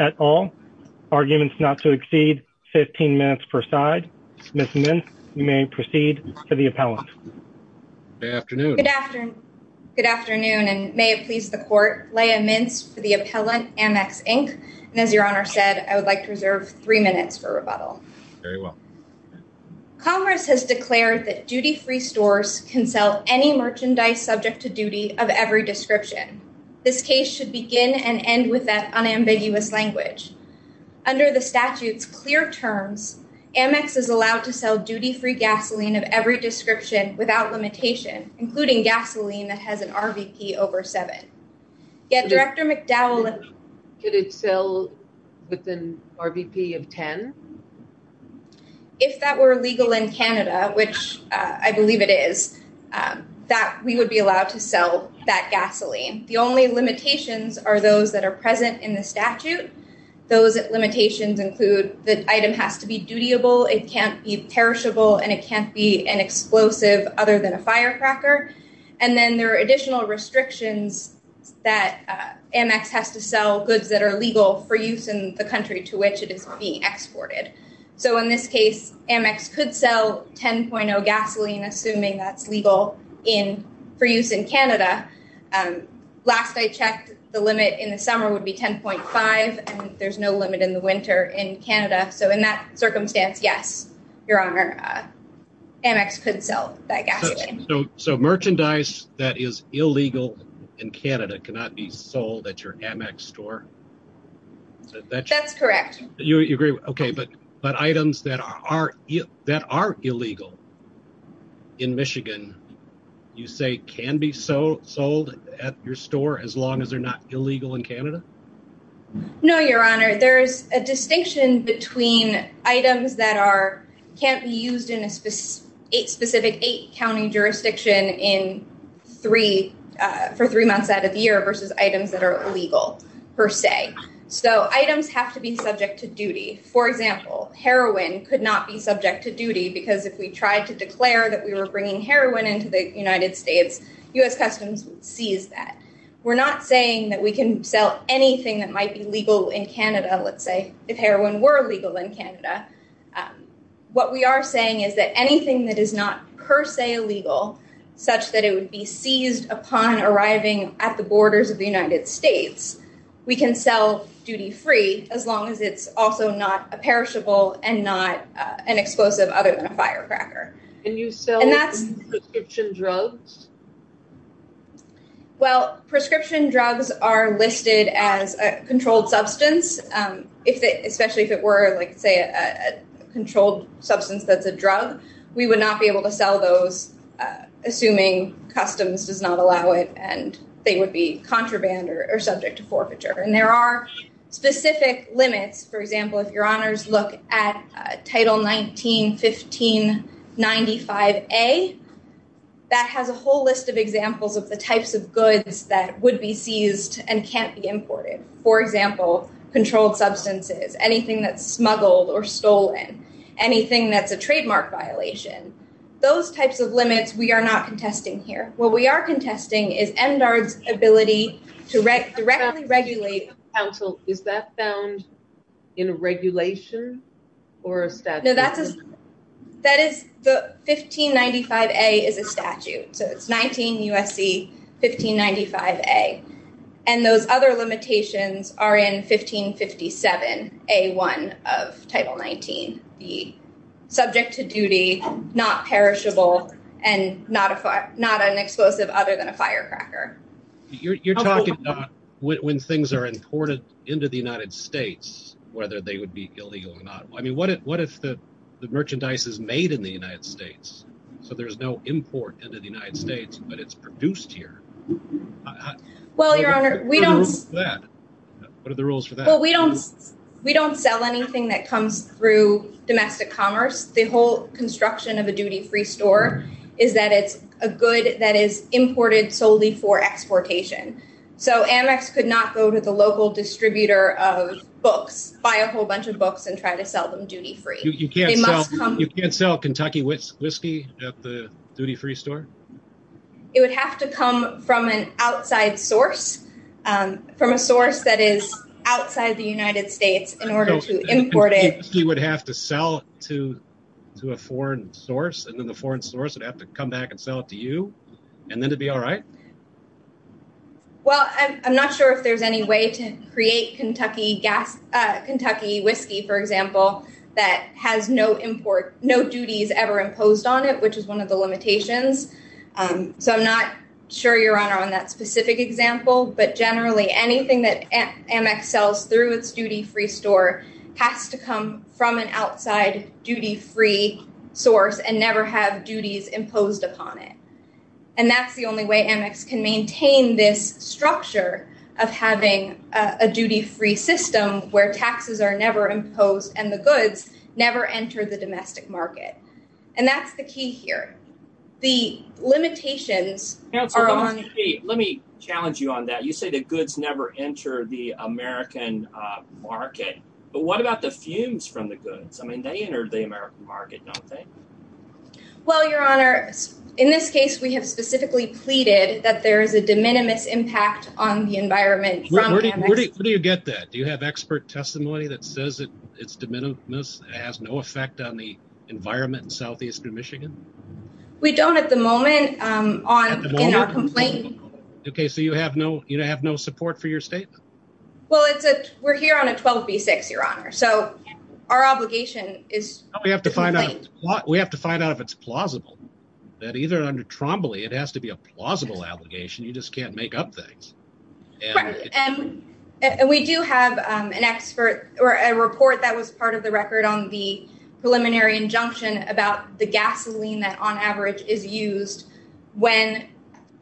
at all. Arguments not to exceed 15 minutes per side. Ms. Mintz, you may proceed to the appellant. Good afternoon. Good afternoon, and may it please the court, Leia Mintz for the appellant, Ammex Inc. And as your Honor said, I would like to reserve three minutes for rebuttal. Very well. Congress has declared that duty-free stores can sell any merchandise subject to duty of every description. This case should begin and end with that unambiguous language. Under the statute's clear terms, Ammex is allowed to sell duty-free gasoline of every description without limitation, including gasoline that has an RVP over seven. Yet Director If that were legal in Canada, which I believe it is, that we would be allowed to sell that gasoline. The only limitations are those that are present in the statute. Those limitations include the item has to be dutiable, it can't be perishable, and it can't be an explosive other than a firecracker. And then there are additional restrictions that Ammex has to So in this case, Ammex could sell 10.0 gasoline, assuming that's legal for use in Canada. Last I checked, the limit in the summer would be 10.5, and there's no limit in the winter in Canada. So in that circumstance, yes, your Honor, Ammex could sell that gasoline. So merchandise that is illegal in Canada cannot be sold at your Ammex store? That's correct. You agree? Okay. But items that are illegal in Michigan, you say can be sold at your store as long as they're not illegal in Canada? No, your Honor. There's a distinction between items that can't be used in a specific eight county jurisdiction for three months out of the year versus items that are illegal per se. So have to be subject to duty. For example, heroin could not be subject to duty because if we tried to declare that we were bringing heroin into the United States, U.S. Customs would seize that. We're not saying that we can sell anything that might be legal in Canada, let's say, if heroin were legal in Canada. What we are saying is that anything that is not per se illegal, such that it would be seized upon arriving at the borders of the United States, we can sell duty-free as long as it's also not a perishable and not an explosive other than a firecracker. And you sell prescription drugs? Well, prescription drugs are listed as a controlled substance, especially if it were, like, say, a controlled substance that's a drug, we would not be able to sell those, assuming Customs does not allow it and they would be contraband or subject to forfeiture. And there are specific limits. For example, if your Honours look at Title 19-1595A, that has a whole list of examples of the types of goods that would be seized and can't be imported. For example, controlled substances, anything that's smuggled or stolen, anything that's a trademark violation, those types of limits, we are not contesting here. What we are contesting is MDARD's ability to directly regulate- Counsel, is that found in a regulation or a statute? No, 1595A is a statute. So it's 19 U.S.C. 1595A. And those other limitations are in 1557 A1 of Title 19, the subject to duty, not perishable, and not an explosive other than a firecracker. You're talking about when things are imported into the United States, whether they would be illegal or not. I mean, what if the merchandise is made in the United States? So there's no import into the United States, but it's produced here. Well, Your Honour, we don't- What are the rules for that? What are the rules for that? We don't sell anything that comes through domestic commerce. The whole construction of a duty-free store is that it's a good that is imported solely for exportation. So Amex could not go to the local distributor of books, buy a whole bunch of books and try to sell them duty-free. You can't sell Kentucky whiskey at the duty-free store? It would have to come from an outside source, from a source that is outside the United States in order to import it. You would have to sell to a foreign source, and then the foreign source would have to come back and sell it to you, and then it'd be all right? Well, I'm not sure if there's any way to create Kentucky whiskey, for example, that has no duties ever imposed on it, which is one of the limitations. So I'm not sure, Your Honour, on that specific example, but generally anything that Amex sells through its duty-free store has to come from an outside duty-free source and never have duties imposed upon it. And that's the only way Amex can maintain this structure of having a duty-free system where taxes are never imposed and the goods never enter the domestic market. And that's the key here. The limitations are on... Let me challenge you on that. You say the goods never enter the American market, but what about the fumes from the goods? I mean, they entered the American market, don't they? Well, Your Honour, in this case, we have specifically pleaded that there is a de minimis impact on the environment from Amex. Where do you get that? Do you have expert testimony that says its de minimis has no effect on the environment in southeastern Michigan? We don't at the moment in our complaint. Okay, so you have no support for your statement? Well, we're here on a 12B6, Your Honour, so our obligation is to complain. We have to find out if it's plausible, that either under Trombley, it has to be a plausible obligation. You just can't make up things. Right, and we do have an expert or a report that was part of the record on the preliminary injunction about the gasoline that on average is used when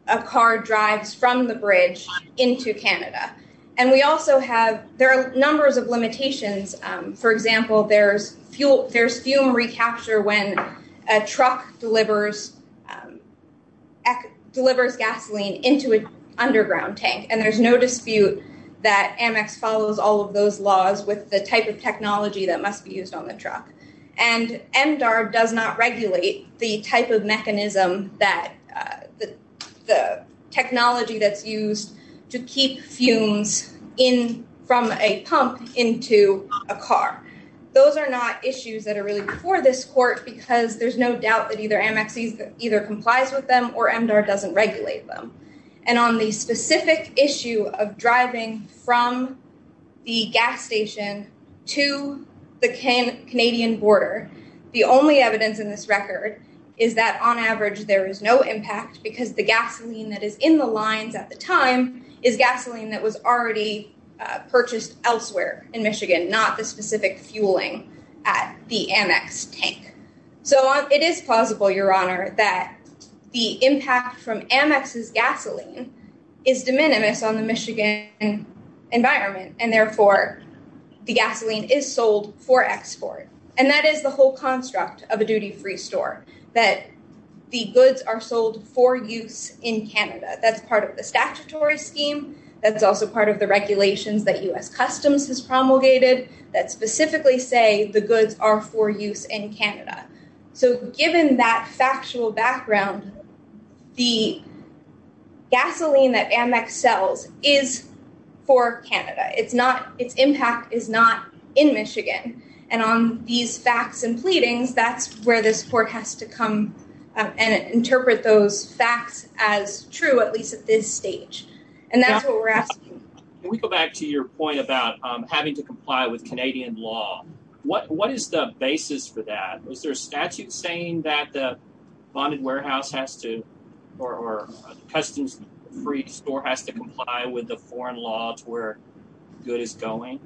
a car drives from the bridge into Canada. And we also have... There are numbers of limitations. For example, there's fuel recapture when a truck delivers gasoline into an underground tank. And there's no dispute that Amex follows all of those laws with the type of technology that must be used on the truck. And MDAR does not regulate the type of mechanism, the technology that's used to keep fumes from a pump into a car. Those are not issues that are really before this court because there's no doubt that either Amex either complies with them or MDAR doesn't regulate them. And on the specific issue of driving from the gas station to the Canadian border, the only evidence in this record is that on average, there is no impact because the gasoline that is in the lines at the time is gasoline that was already purchased elsewhere in Michigan, not the specific fueling at the Amex tank. So it is plausible, Your Honor, that the impact from Amex's gasoline is de minimis on the Michigan environment and therefore the gasoline is sold for export. And that is the whole construct of a duty-free store, that the goods are sold for use in Canada. That's part of the statutory scheme. That's also part of the regulations that US Customs has promulgated that specifically say the goods are for use in Canada. So given that factual background, the gasoline that Amex sells is for Canada. Its impact is not in Michigan. And on these facts and pleadings, that's where this court has to come and interpret those facts as true, at least at this stage. And that's what we're asking. Can we go back to your point about having to comply with Canadian law? What is the basis for that? Is there a statute saying that the bonded warehouse has to, or Customs-free store has to comply with the foreign law to where good is going?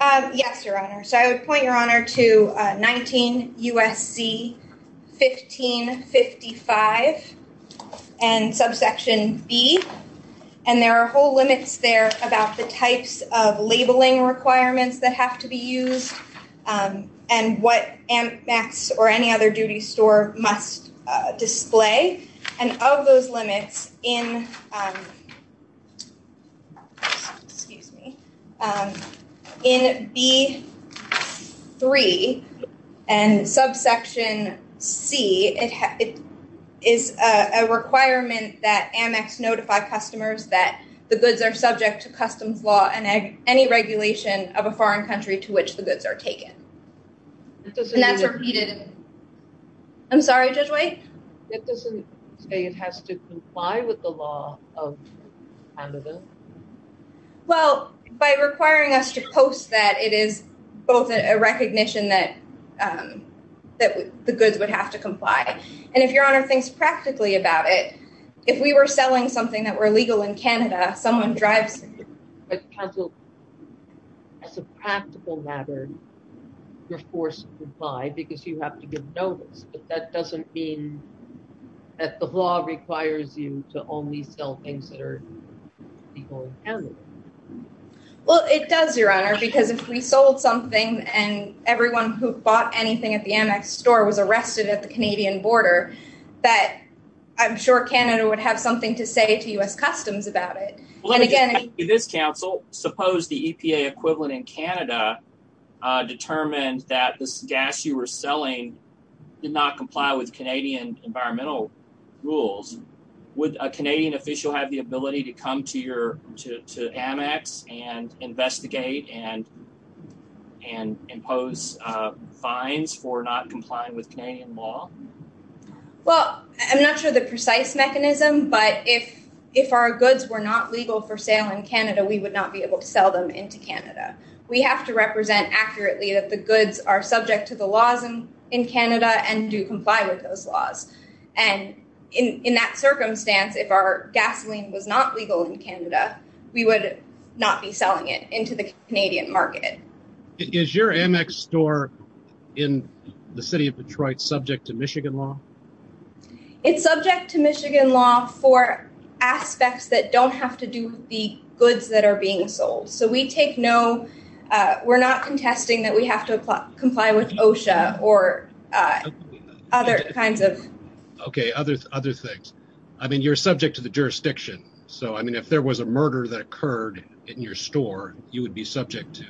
Yes, Your Honor. So I would point, Your Honor, to 19 U.S.C. 1555 and subsection B. And there are whole limits there about the types of labeling requirements that have to be used and what Amex or any other duty store must display. And of those limits in B3 and subsection C, it is a requirement that Amex notify customers that the goods are subject to Customs law and any regulation of a foreign country to which the goods are taken. And that's repeated. I'm sorry, Judge White? It doesn't say it has to comply with the law of Canada? Well, by requiring us to post that, it is both a recognition that the goods would have to comply. And if Your Honor thinks practically about it, if we were selling something that were illegal in Canada, someone drives... But counsel, as a practical matter, you're forced to comply because you have to give notice. But that doesn't mean that the law requires you to only sell things that are illegal in Canada. Well, it does, Your Honor, because if we sold something and everyone who bought anything at the Amex store was arrested at the Canadian border, that I'm sure Canada would have something to say to U.S. Customs about it. Well, let me just ask you this, counsel. Suppose the EPA equivalent in Canada determined that this gas you were selling did not comply with Canadian environmental rules. Would a Canadian official have the ability to come to Amex and investigate and impose fines for not complying with Canadian law? Well, I'm not sure the precise mechanism, but if our goods were not legal for sale in Canada, we would not be able to sell them into Canada. We have to represent accurately that the goods are subject to the laws in Canada and do comply with those laws. And in that circumstance, if our gasoline was not legal in Canada, we would not be selling it into the Canadian market. Is your Amex store in the city of Detroit subject to Michigan law? It's subject to Michigan law for aspects that don't have to do with the goods that are being sold. So we take no, we're not contesting that we have to comply with OSHA or other kinds of. OK, other other things. I mean, you're subject to the jurisdiction. So, I mean, if there was a murder that occurred in your store, you would be subject to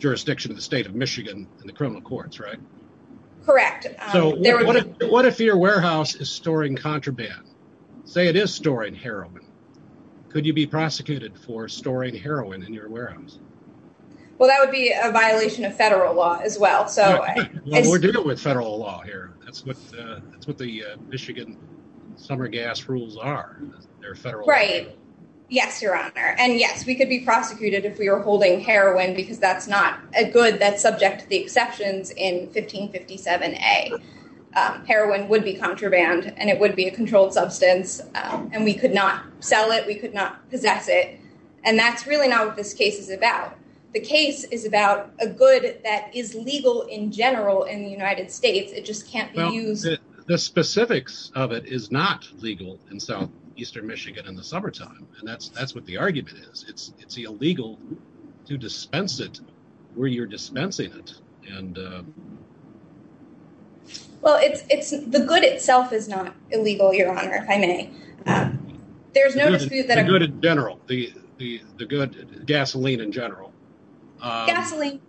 jurisdiction of the state of Michigan and the criminal courts, right? Correct. What if your warehouse is storing contraband? Say it is storing heroin. Could you be prosecuted for storing heroin in your warehouse? Well, that would be a violation of federal law as well. So we're dealing with federal law here. That's what the Michigan summer gas rules are. Right. Yes, Your Honor. And yes, we could be prosecuted if we were holding heroin, because that's not a good that's subject to the exceptions in 1557A. Heroin would be contraband and it would be a controlled substance and we could not sell it. We could not possess it. And that's really not what this case is about. The case is about a good that is legal in general in the United States. It just can't be used. The specifics of it is not legal in southeastern Michigan in the summertime. And that's that's what the argument is. It's it's illegal to dispense it where you're dispensing it. And well, it's the good itself is not illegal, Your Honor, if I may. There's no good in general, the good gasoline in general. Gasoline,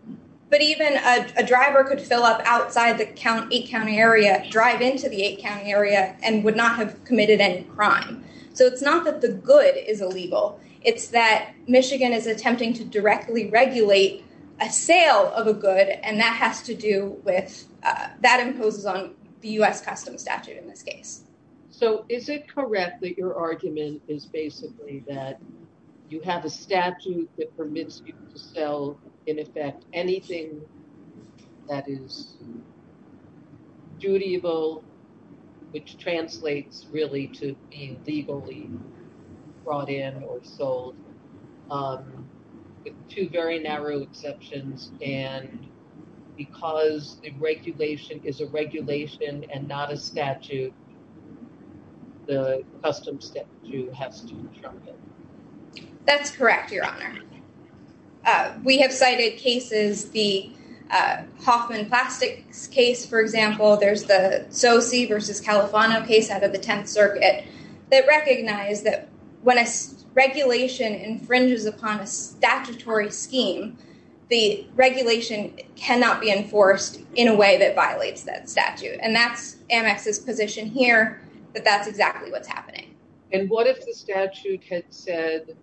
but even a driver could fill up outside the eight county area, drive into the eight county area and would not have committed any crime. So it's not that the good is illegal. It's that Michigan is attempting to directly regulate a sale of a good. And that has to do with that imposes on the U.S. custom statute in this case. So is it correct that your argument is basically that you have a statute that permits you to sell, in effect, anything that is dutiable, which translates really to being legally brought in or sold with two very narrow exceptions? And because the regulation is a regulation and not a statute, the custom statute has to trump it. That's correct, Your Honor. We have cited cases, the Hoffman Plastics case, for example. There's the SoC versus Califano case out of the 10th Circuit that recognized that when a regulation infringes upon a statutory scheme, the regulation cannot be enforced in a way that violates that statute. And that's Amex's position here, that that's exactly what's happening. And what if the statute had said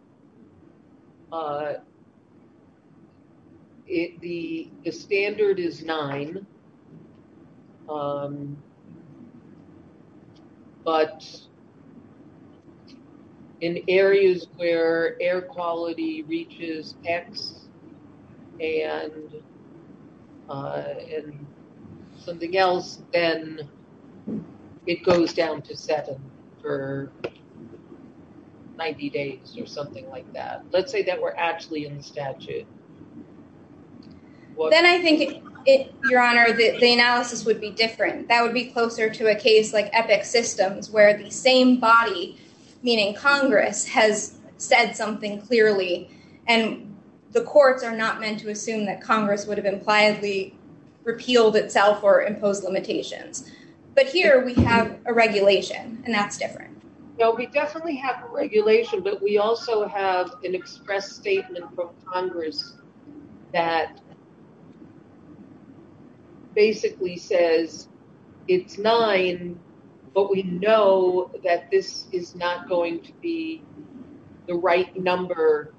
the standard is nine, but in areas where air quality reaches X and Y, and something else, then it goes down to seven for 90 days or something like that. Let's say that we're actually in the statute. Then I think, Your Honor, that the analysis would be different. That would be closer to a case like Epic Systems, where the same body, meaning Congress, has said something clearly. And the courts are not meant to assume that Congress would have impliedly repealed itself or imposed limitations. But here we have a regulation, and that's different. No, we definitely have a regulation, but we also have an express statement from Congress that basically says it's nine, but we know that this is not going to be the right number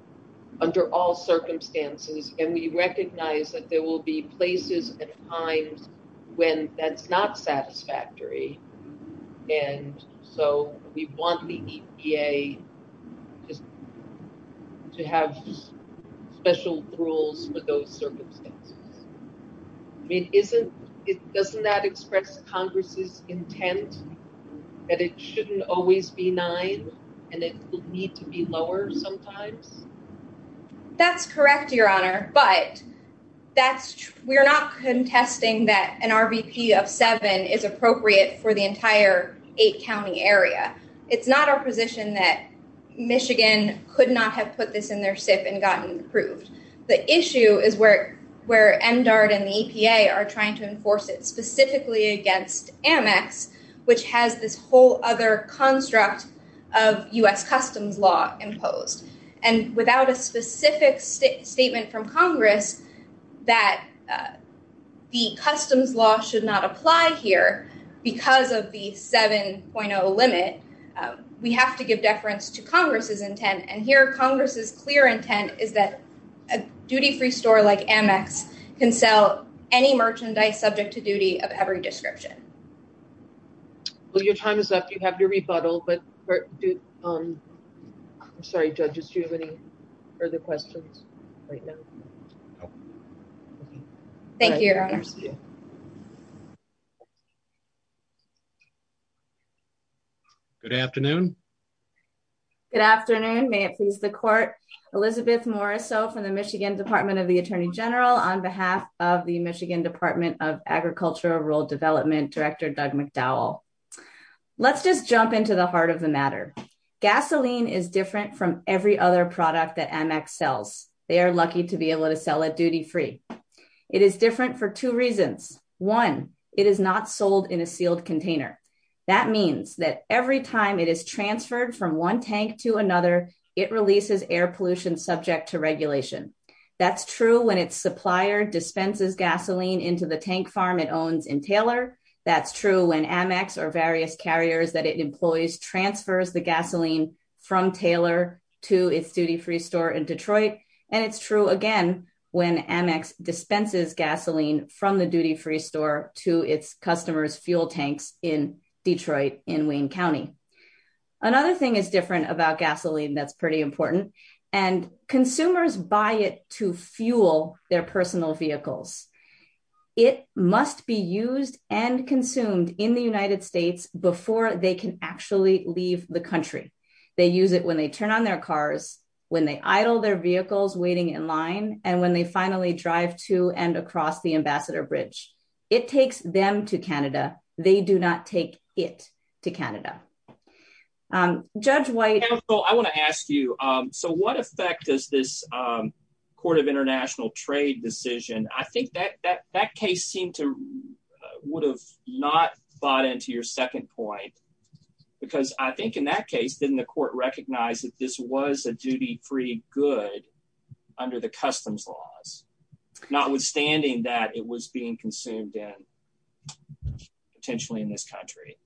under all circumstances. And we recognize that there will be places and times when that's not satisfactory. And so we want the EPA just to have special rules for those circumstances. I mean, doesn't that express Congress's intent that it shouldn't always be nine, and it would need to be lower sometimes? That's correct, Your Honor. But we're not contesting that an RVP of seven is appropriate for the entire eight-county area. It's not our position that Michigan could not have put this in their SIP and gotten approved. The issue is where MDARD and the EPA are trying to enforce it specifically against Amex, which has this whole other construct of U.S. customs law imposed. And without a specific statement from Congress that the customs law should not apply here because of the 7.0 limit, we have to give deference to Congress's intent. And here Congress's clear intent is that a duty-free store like Amex can sell any merchandise subject to duty of every description. Well, your time is up. You have your rebuttal. I'm sorry, judges. Do you have any further questions right now? Thank you, Your Honor. Good afternoon. Good afternoon. May it please the court. Elizabeth Morisot from the Michigan Department of the Attorney General on behalf of the Michigan Department of Agriculture Rural Development, Director Doug McDowell. Let's just jump into the heart of the matter. Gasoline is different from every other product that Amex sells. They are lucky to be able to sell it duty-free. It is different for two reasons. One, it is not sold in a sealed container. That means that every time it is transferred from one tank to another, it releases air pollution subject to regulation. That's true when its supplier dispenses gasoline into the tank farm it owns in Taylor. That's true when Amex or various carriers that it employs transfers the gasoline from Taylor to its duty-free store in Detroit. And it's true again when Amex dispenses gasoline from the duty-free store to its customers' fuel tanks in Detroit in Wayne County. Another thing is different about gasoline that's pretty important. Consumers buy it to fuel their personal vehicles. It must be used and consumed in the United States before they can actually leave the country. They use it when they turn on their cars, when they idle their vehicles waiting in line, and when they finally drive to and across the Ambassador Bridge. It takes them to Canada. They do not take it to Canada. Judge White. I want to ask you, so what effect does this Court of International Trade decision, I think that case seemed to would have not bought into your second point. Because I think in that case, didn't the court recognize that this was a duty-free good under the customs laws, notwithstanding that it was being consumed in potentially in this country?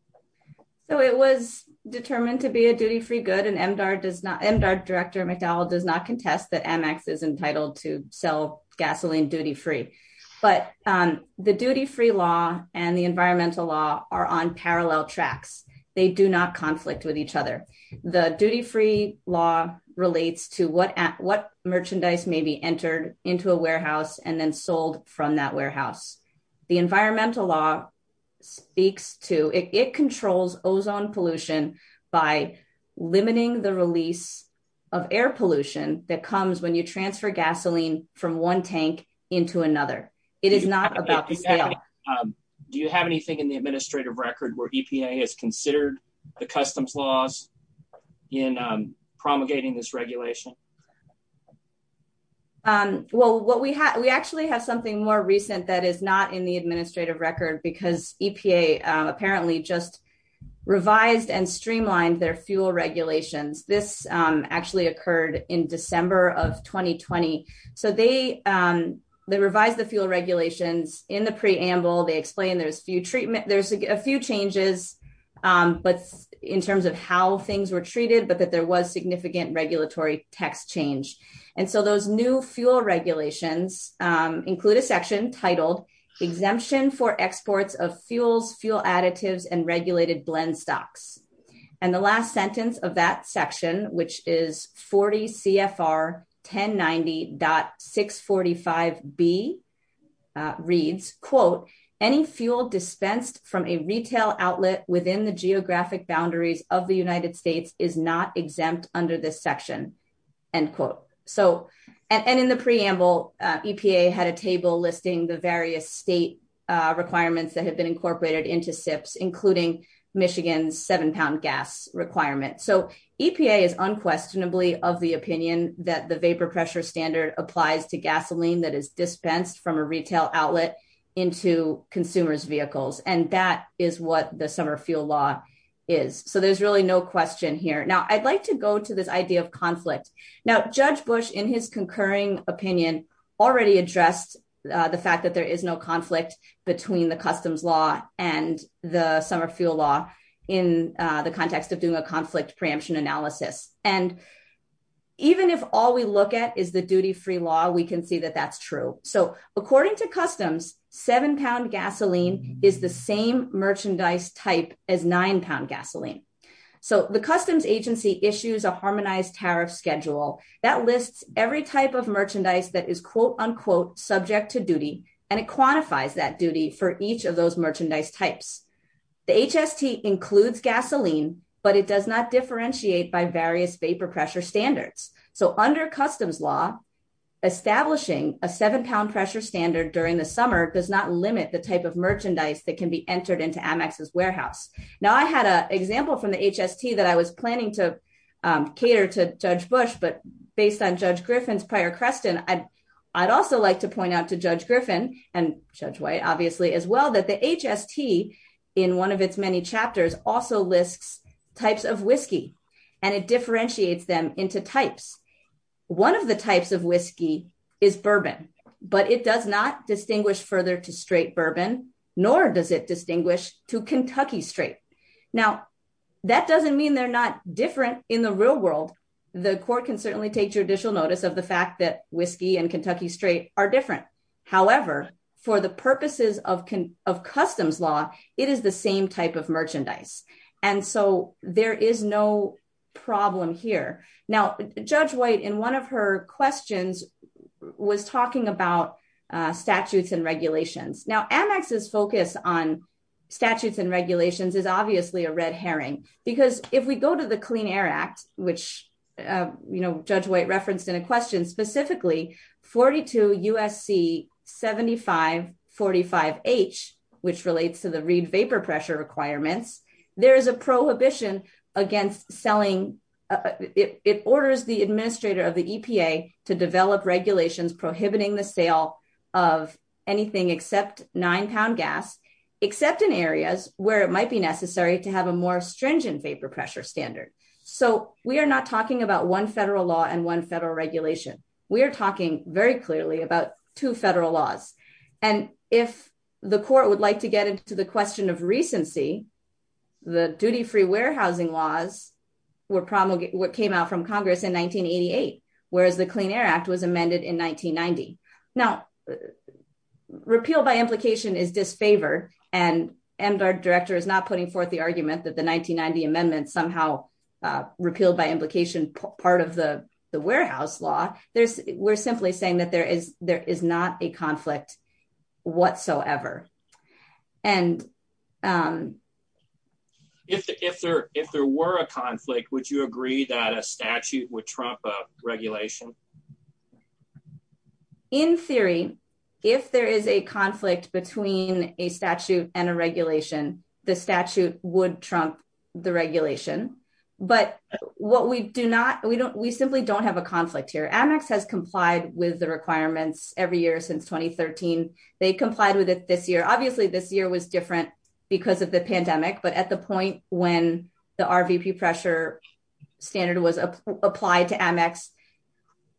So it was determined to be a duty-free good, and MDARD Director McDowell does not contest that Amex is entitled to sell gasoline duty-free. But the duty-free law and the environmental law are on parallel tracks. They do not conflict with each other. The duty-free law relates to what merchandise may be entered into a warehouse and then sold from that warehouse. The environmental law speaks to, it controls ozone pollution by limiting the release of air pollution that comes when you transfer gasoline from one tank into another. It is not about the scale. Do you have anything in the administrative record where EPA has considered the customs laws in promulgating this regulation? Well, we actually have something more recent that is not in the administrative record because EPA apparently just revised and streamlined their fuel regulations. This actually occurred in December of 2020. So they revised the fuel regulations in the preamble. They explained there's a few changes in terms of how things were treated, but that there was significant regulatory tax change. And so those new fuel regulations include a section titled exemption for exports of fuels, fuel additives, and regulated blend stocks. And the last sentence of that section, which is 40 CFR 1090.645B reads, quote, any fuel dispensed from a retail outlet within the geographic boundaries of the United States is not exempt under this section, end quote. And in the preamble, EPA had a table listing the various state requirements that have been incorporated into SIPs, including Michigan's seven pound gas requirement. So EPA is unquestionably of the opinion that the vapor pressure standard applies to gasoline that is dispensed from a retail outlet into consumer's vehicles. And that is what the summer fuel law is. So there's really no question here. Now, I'd like to go to this idea of conflict. Now, Judge Bush, in his concurring opinion, already addressed the fact that there is no conflict between the customs law and the summer fuel law in the context of doing a conflict preemption analysis. And even if all we look at is the duty-free law, we can see that that's true. So according to customs, seven pound gasoline is the same merchandise type as nine pound gasoline. So the customs agency issues a harmonized tariff schedule that lists every type of merchandise that is quote, unquote, subject to duty. And it quantifies that duty for each of those merchandise types. The HST includes gasoline, but it does not differentiate by various vapor pressure standards. So under customs law, establishing a seven pound pressure standard during the summer does not limit the type of merchandise that can be entered into Amex's warehouse. Now, I had an example from the HST that I was planning to cater to Judge Bush, but based on Judge Griffin's prior question, I'd also like to point out to Judge Griffin and Judge White obviously as well, that the HST in one of its many chapters also lists types of whiskey and it differentiates them into types. One of the types of whiskey is bourbon, but it does not distinguish further to straight bourbon, nor does it distinguish to Kentucky straight. Now, that doesn't mean they're not different in the real world. The court can certainly take judicial notice of the fact that whiskey and Kentucky straight are different. However, for the purposes of customs law, it is the same type of merchandise. And so there is no problem here. Now, Judge White in one of her questions was talking about statutes and regulations. Now, Amex's focus on statutes and regulations is obviously a red herring because if we go to the Clean Air Act, which Judge White referenced in a question specifically, 42 USC 7545H, which relates to the reed vapor pressure requirements, there is a prohibition against selling. It orders the administrator of the EPA to develop regulations prohibiting the sale of anything except nine pound gas, except in areas where it might be necessary to have a more stringent vapor pressure standard. So we are not talking about one federal law and one federal regulation. We are talking very clearly about two federal laws. And if the court would like to get into the question of recency, the duty-free warehousing laws what came out from Congress in 1988, whereas the Clean Air Act was amended in 1990. Now, repeal by implication is disfavored and MDARD director is not putting forth the argument that the 1990 amendment somehow repealed by implication part of the warehouse law. There's, we're simply saying that there is not a conflict whatsoever. And if there were a conflict, would you agree that a statute would trump a regulation? In theory, if there is a conflict between a statute and a regulation the statute would trump the regulation. But what we do not, we simply don't have a conflict here. Amex has complied with the requirements every year since 2013. They complied with it this year. Obviously this year was different because of the pandemic but at the point when the RVP pressure standard was applied to Amex,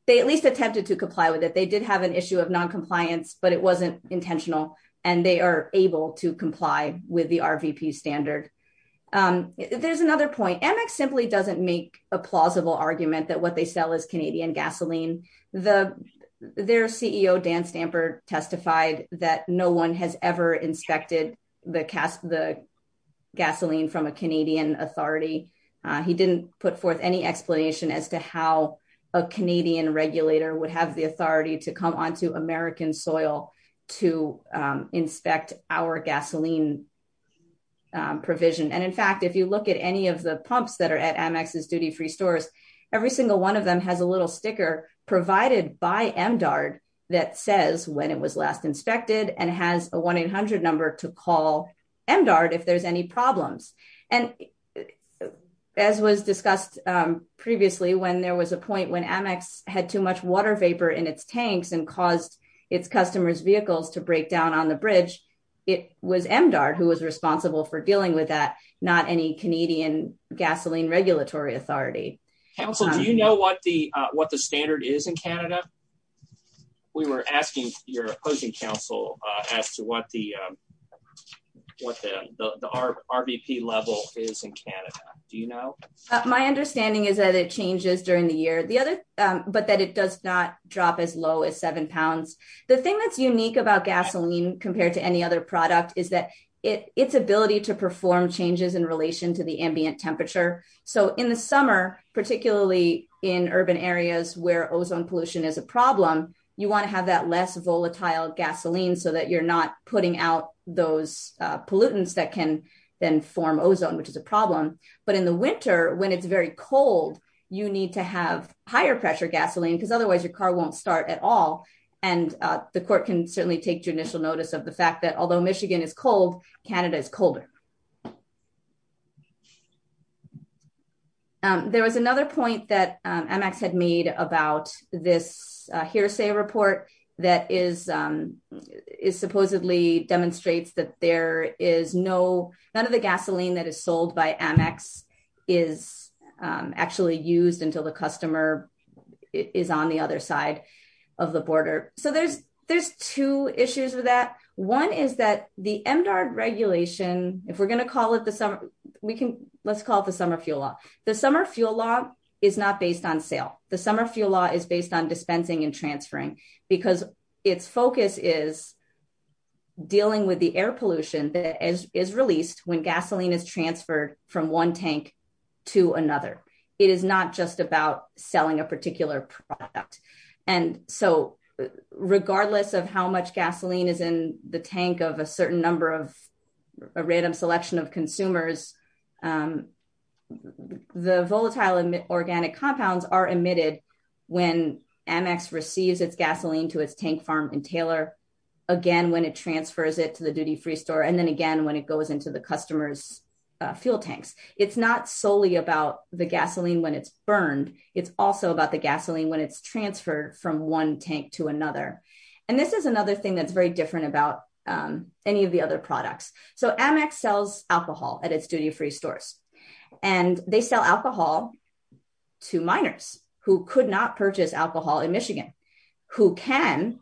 they at least attempted to comply with it. They did have an issue of non-compliance but it wasn't intentional and they are able to comply with the RVP standard. There's another point. Amex simply doesn't make a plausible argument that what they sell is Canadian gasoline. Their CEO, Dan Stamper testified that no one has ever inspected the gasoline from a Canadian authority. He didn't put forth any explanation as to how a Canadian regulator would have the authority to come onto American soil to inspect our gasoline provision. And in fact, if you look at any of the pumps that are at Amex's duty-free stores every single one of them has a little sticker provided by MDARD that says when it was last inspected and has a 1-800 number to call MDARD if there's any problems. And as was discussed previously when there was a point when Amex had too much water vapor in its tanks and caused its customers' vehicles to break down on the bridge it was MDARD who was responsible for dealing with that not any Canadian gasoline regulatory authority. Council, do you know what the standard is in Canada? We were asking your opposing council as to what the RVP level is in Canada. Do you know? My understanding is that it changes during the year. But that it does not drop as low as seven pounds. The thing that's unique about gasoline compared to any other product is that its ability to perform changes in relation to the ambient temperature. So in the summer, particularly in urban areas where ozone pollution is a problem you wanna have that less volatile gasoline so that you're not putting out those pollutants that can then form ozone, which is a problem. But in the winter, when it's very cold you need to have higher pressure gasoline because otherwise your car won't start at all. And the court can certainly take judicial notice of the fact that although Michigan is cold Canada is colder. There was another point that Amex had made about this hearsay report that is supposedly demonstrates that none of the gasoline that is sold by Amex is actually used until the customer is on the other side of the border. So there's two issues with that. One is that the MDARD regulation if we're gonna call it the summer, let's call it the summer fuel law. The summer fuel law is not based on sale. The summer fuel law is based on dispensing and transferring because its focus is dealing with the air pollution that is released when gasoline is transferred from one tank to another. It is not just about selling a particular product. And so regardless of how much gasoline is in the tank of a certain number of a random selection of consumers the volatile organic compounds are emitted when Amex receives its gasoline to its tank farm in Taylor again, when it transfers it to the duty-free store. And then again, when it goes into the customer's fuel tanks it's not solely about the gasoline when it's burned. It's also about the gasoline when it's transferred from one tank to another. And this is another thing that's very different about any of the other products. So Amex sells alcohol at its duty-free stores and they sell alcohol to minors who could not purchase alcohol in Michigan who can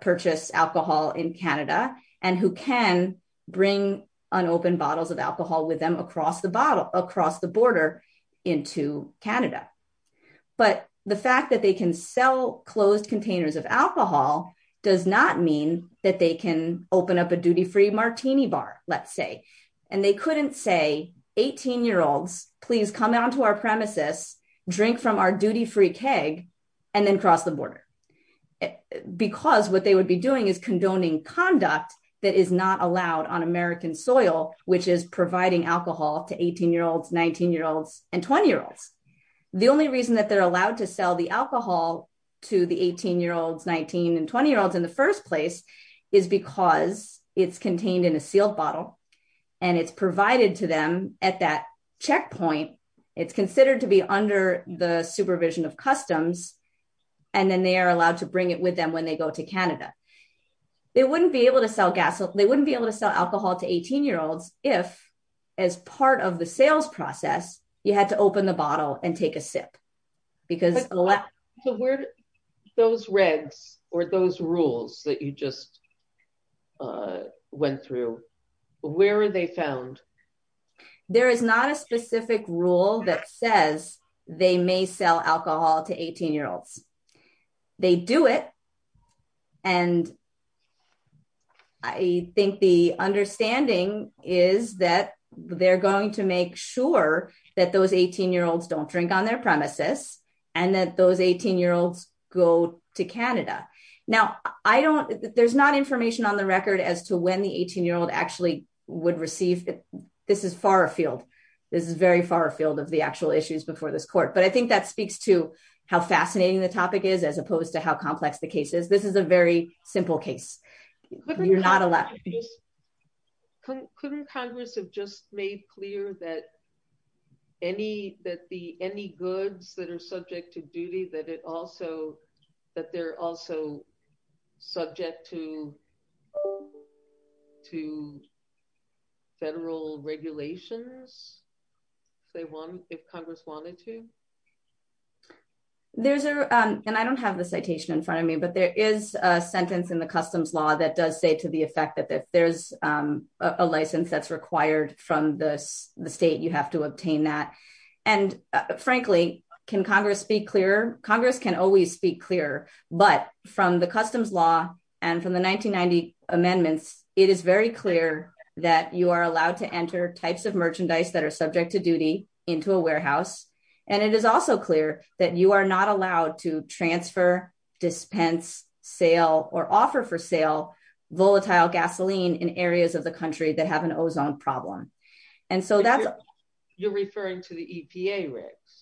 purchase alcohol in Canada and who can bring unopened bottles of alcohol with them across the border into Canada. But the fact that they can sell closed containers of alcohol does not mean that they can open up a duty-free martini bar, let's say. And they couldn't say 18 year olds please come onto our premises, drink from our duty-free keg and then cross the border because what they would be doing is condoning conduct that is not allowed on American soil which is providing alcohol to 18 year olds 19 year olds and 20 year olds. The only reason that they're allowed to sell the alcohol to the 18 year olds, 19 and 20 year olds in the first place is because it's contained in a sealed bottle and it's provided to them at that checkpoint. It's considered to be under the supervision of customs and then they are allowed to bring it with them when they go to Canada. They wouldn't be able to sell gas. They wouldn't be able to sell alcohol to 18 year olds if as part of the sales process you had to open the bottle and take a sip because- Those regs or those rules that you just went through where are they found? There is not a specific rule that says they may sell alcohol to 18 year olds. They do it and I think the understanding is that they're going to make sure that those 18 year olds don't drink on their premises and that those 18 year olds go to Canada. Now I don't- There's not information on the record as to when the 18 year old actually would receive it. This is far afield. This is very far afield of the actual issues before this court. But I think that speaks to how fascinating the topic is as opposed to how complex the case is. This is a very simple case. You're not allowed- Couldn't Congress have just made clear that any goods that are subject to duty that they're also subject to federal regulations if Congress wanted to? There's a- And I don't have the citation in front of me but there is a sentence in the customs law that does say to the effect that there's a license that's required from the state. You have to obtain that. And frankly, can Congress speak clearer? Congress can always speak clearer but from the customs law and from the 1990 amendments it is very clear that you are allowed to enter types of merchandise that are subject to duty into a warehouse. And it is also clear that you are not allowed to transfer, dispense, sale or offer for sale volatile gasoline in areas of the country that have an ozone problem. And so that's- You're referring to the EPA rigs?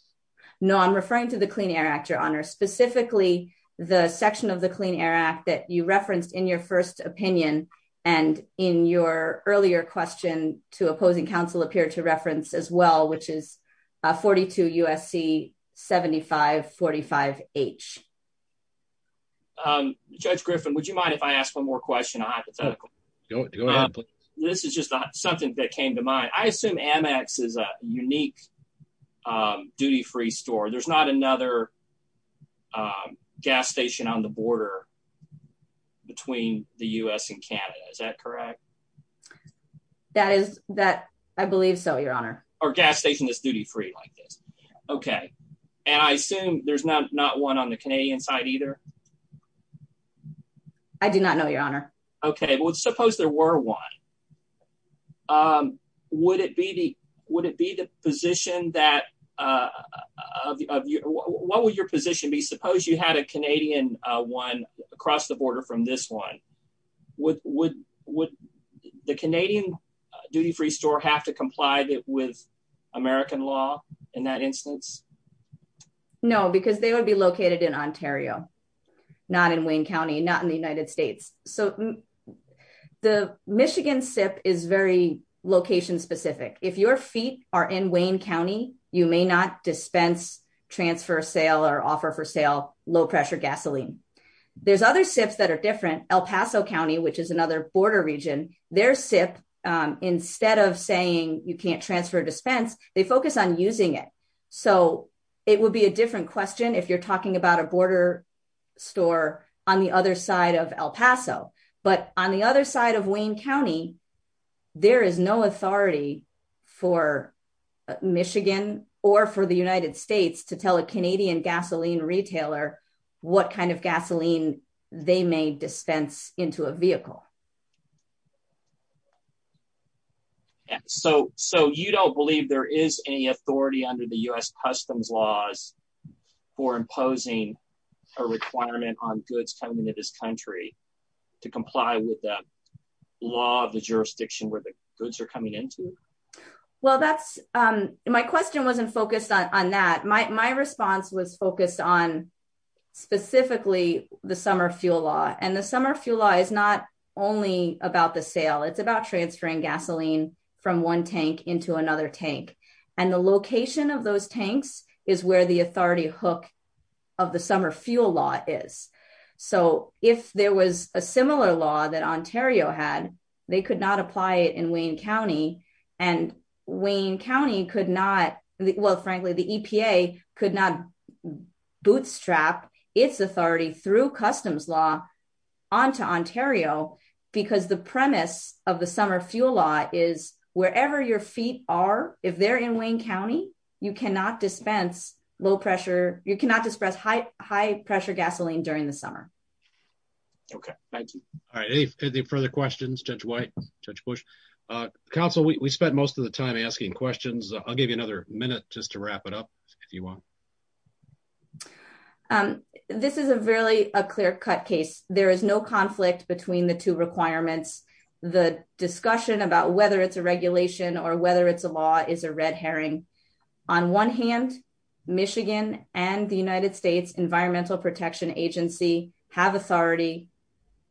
No, I'm referring to the Clean Air Act, Your Honor. Specifically the section of the Clean Air Act that you referenced in your first opinion and in your earlier question to opposing counsel appeared to reference as well which is 42 USC 7545H. Judge Griffin, would you mind if I ask one more question on hypothetical? Go ahead, please. This is just something that came to mind. I assume Amex is a unique duty-free store. There's not another gas station on the border between the U.S. and Canada. Is that correct? That is that- I believe so, Your Honor. Our gas station is duty-free like this. Okay. And I assume there's not one on the Canadian side either? I do not know, Your Honor. Okay. Well, suppose there were one. Would it be the position that- What would your position be? Suppose you had a Canadian one across the border from this one. Would the Canadian duty-free store have to comply with American law in that instance? No, because they would be located in Ontario, not in Wayne County, not in the United States. So the Michigan SIP is very location-specific. If your feet are in Wayne County, you may not dispense, transfer, sale, or offer for sale low-pressure gasoline. There's other SIPs that are different. El Paso County, which is another border region, their SIP, instead of saying you can't transfer or dispense, they focus on using it. So it would be a different question if you're talking about a border store on the other side of El Paso. But on the other side of Wayne County, there is no authority for Michigan or for the United States to tell a Canadian gasoline retailer what kind of gasoline they may dispense into a vehicle. So you don't believe there is any authority under the U.S. Customs laws for imposing a requirement on goods coming to this country to comply with the law of the jurisdiction where the goods are coming into? Well, my question wasn't focused on that. My response was focused on specifically the summer fuel law. And the summer fuel law is not only about the sale. It's about transferring gasoline from one tank into another tank. And the location of those tanks is where the authority hook of the summer fuel law is. So if there was a similar law that Ontario had, they could not apply it in Wayne County. And Wayne County could not, well, frankly, the EPA could not bootstrap its authority through customs law onto Ontario because the premise of the summer fuel law is wherever your feet are, if they're in Wayne County, you cannot dispense low pressure, you cannot disperse high pressure gasoline during the summer. Okay, thank you. All right, any further questions? Judge White, Judge Bush? Counsel, we spent most of the time asking questions. I'll give you another minute just to wrap it up if you want. This is really a clear cut case. There is no conflict between the two requirements. The discussion about whether it's a regulation or whether it's a law is a red herring. On one hand, Michigan and the United States Environmental Protection Agency have authority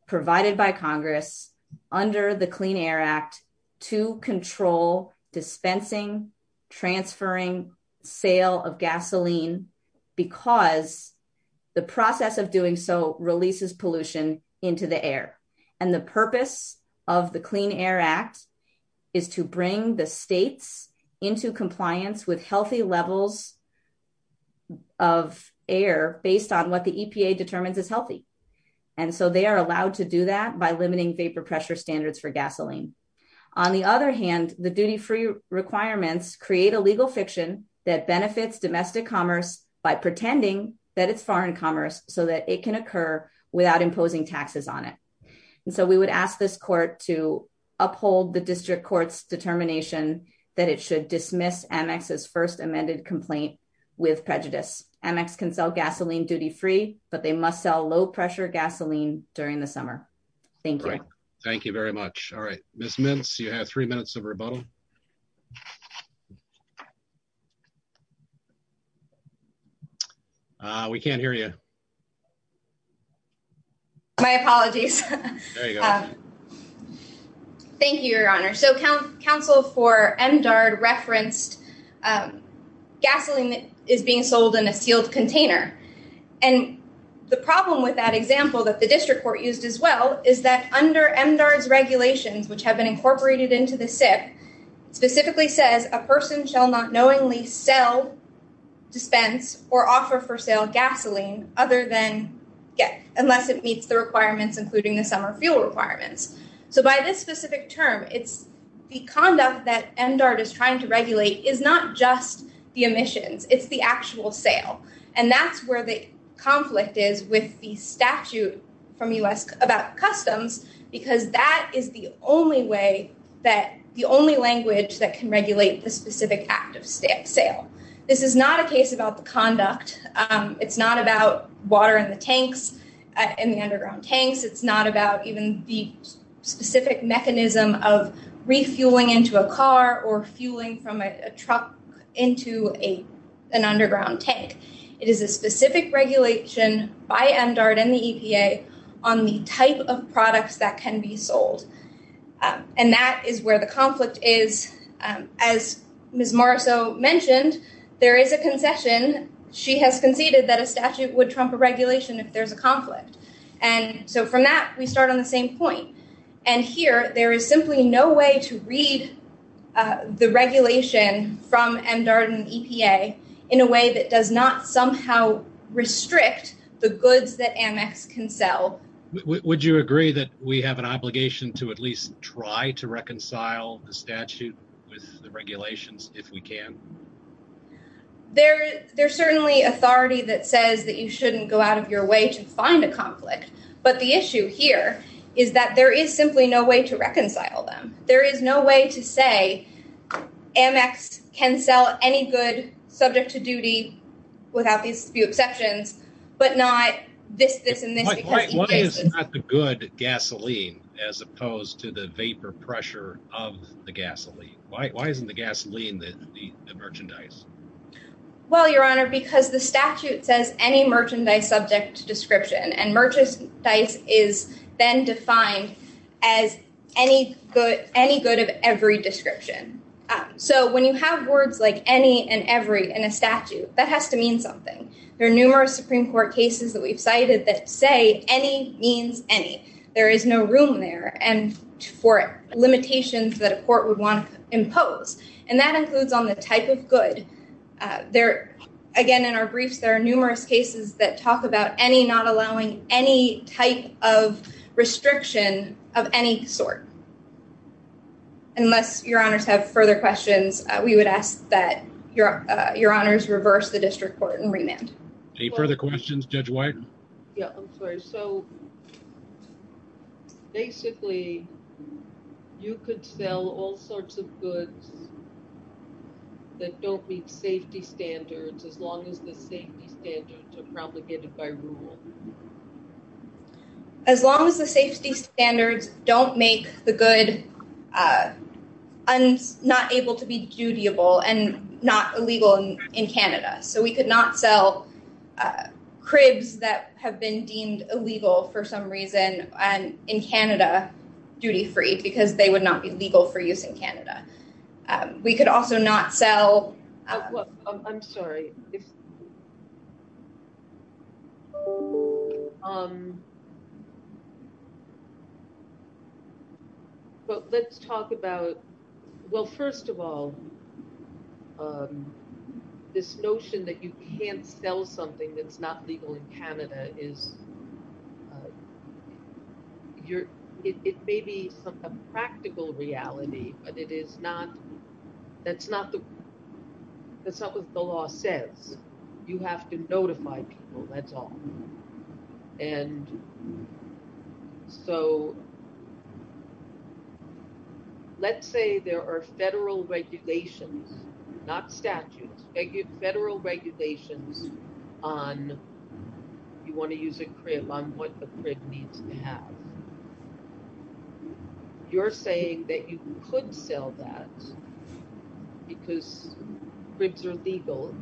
provided by Congress under the Clean Air Act to control dispensing, transferring sale of gasoline because the process of doing so releases pollution into the air. And the purpose of the Clean Air Act is to bring the states into compliance with healthy levels of air based on what the EPA determines is healthy. And so they are allowed to do that by limiting vapor pressure standards for gasoline. On the other hand, the duty-free requirements create a legal fiction that benefits domestic commerce by pretending that it's foreign commerce so that it can occur without imposing taxes on it. And so we would ask this court to uphold the district court's determination that it should dismiss Amex's first amended complaint with prejudice. Amex can sell gasoline duty-free, but they must sell low pressure gasoline during the summer. Thank you. Thank you very much. All right. Ms. Mintz, you have three minutes of rebuttal. We can't hear you. My apologies. There you go. Thank you, Your Honor. So counsel for MDARD referenced gasoline is being sold in a sealed container. And the problem with that example that the district court used as well is that under MDARD's regulations, which have been incorporated into the SIP, specifically says a person shall not knowingly sell, dispense, or offer for sale gasoline other than unless it meets the requirements including the summer fuel requirements. So by this specific term, it's the conduct that MDARD is trying to regulate is not just the emissions. It's the actual sale. And that's where the conflict is with the statute from U.S. about customs because that is the only way that, the only language that can regulate the specific act of sale. This is not a case about the conduct. It's not about water in the tanks, in the underground tanks. It's not about even the specific mechanism of refueling into a car or fueling from a truck into an underground tank. It is a specific regulation by MDARD and the EPA on the type of products that can be sold. And that is where the conflict is. As Ms. Marceau mentioned, there is a concession. She has conceded that a statute would trump a regulation if there's a conflict. And so from that, we start on the same point. And here, there is simply no way to read the regulation from MDARD and EPA in a way that does not somehow restrict the goods that Amex can sell. Would you agree that we have an obligation to at least try to reconcile the statute with the regulations if we can? There's certainly authority that says that you shouldn't go out of your way to find a conflict. But the issue here is that there is simply no way to reconcile them. There is no way to say Amex can sell any good subject to duty without these few exceptions, but not this, this, and this. Why is not the good gasoline as opposed to the vapor pressure of the gasoline? Why isn't the gasoline the merchandise? Well, Your Honor, because the statute says merchandise subject to description, and merchandise is then defined as any good of every description. So when you have words like any and every in a statute, that has to mean something. There are numerous Supreme Court cases that we've cited that say any means any. There is no room there for limitations that a court would want to impose. And that includes on the type of good. There, again, in our briefs, there are numerous cases that talk about any not allowing any type of restriction of any sort. Unless Your Honors have further questions, we would ask that Your Honors reverse the district court and remand. Any further questions, Judge White? Yeah, I'm sorry. So basically, you could sell all sorts of goods that don't meet safety standards as long as the safety standards are promulgated by rule. As long as the safety standards don't make the good not able to be dutiable and not illegal in Canada. So we could not sell cribs that have been deemed illegal for some reason in Canada duty-free because they would not be legal for use in Canada. We could also not sell... I'm sorry. But let's talk about... Well, first of all, this notion that you can't sell something that's not legal in Canada is... It may be a practical reality, but that's not what the law says. You have to notify people, that's all. And so let's say there are federal regulations, not statutes, federal regulations on... You want to use a crib on what the crib needs to have. And you're saying that you could sell that because cribs are legal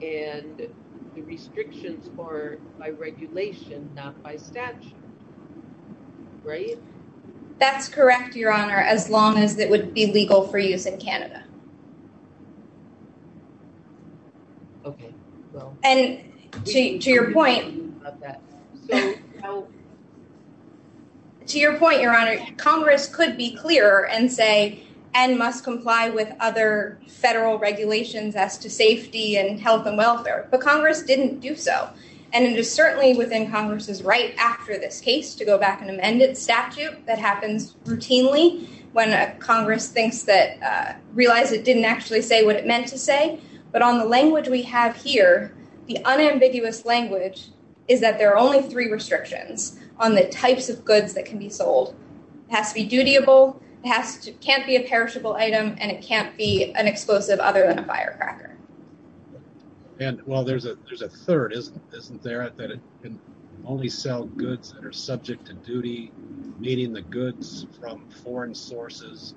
and the restrictions are by regulation, not by statute, right? That's correct, Your Honor, as long as it would be legal for use in Canada. Okay, well... And to your point... That... To your point, Your Honor, Congress could be clearer and say, and must comply with other federal regulations as to safety and health and welfare, but Congress didn't do so. And it is certainly within Congress's right after this case to go back and amend its statute. That happens routinely when Congress thinks that... Realize it didn't actually say what it meant to say, but on the language we have here, the unambiguous language is that there are only three restrictions on the types of goods that can be sold. It has to be dutiable, it can't be a perishable item, and it can't be an explosive other than a firecracker. And, well, there's a third, isn't there? That it can only sell goods that are subject to duty, meaning the goods from foreign sources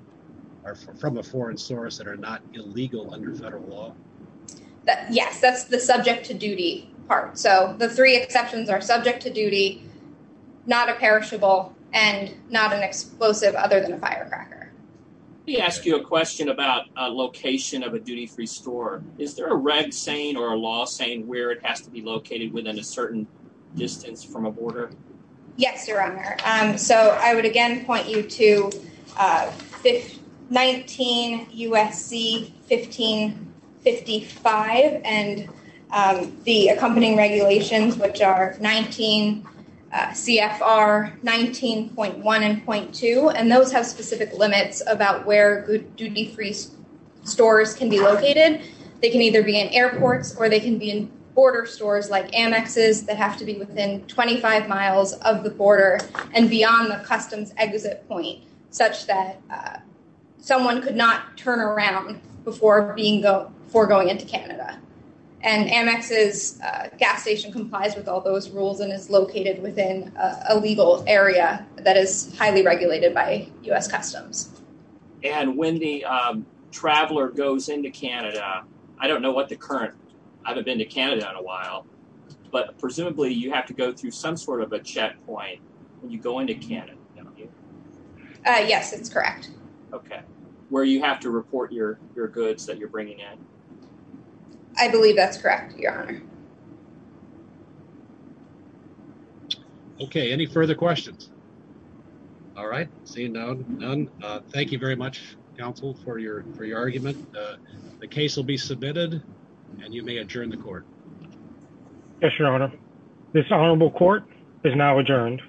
are from a foreign source that are not illegal under federal law. Yes, that's the subject to duty part. The three exceptions are subject to duty, not a perishable, and not an explosive other than a firecracker. Let me ask you a question about location of a duty-free store. Is there a reg saying or a law saying where it has to be located within a certain distance from a border? Yes, Your Honor. I would again point you to 19 U.S.C. 1555 and the accompanying regulations, which are 19 CFR 19.1 and .2, and those have specific limits about where duty-free stores can be located. They can either be in airports or they can be in border stores like annexes that have to be within 25 miles of the border and beyond the customs exit point, such that someone could not turn around before going into Canada. And annexes gas station complies with all those rules and is located within a legal area that is highly regulated by U.S. Customs. And when the traveler goes into Canada, I don't know what the current, I haven't been to Canada in a while, but presumably you have to go through some sort of a checkpoint when you go into Canada, don't you? Yes, that's correct. Okay, where you have to report your goods that you're bringing in. I believe that's correct, your honor. Okay, any further questions? All right, seeing none. Thank you very much, counsel, for your argument. The case will be submitted and you may adjourn the court. Yes, your honor. This honorable court is now adjourned.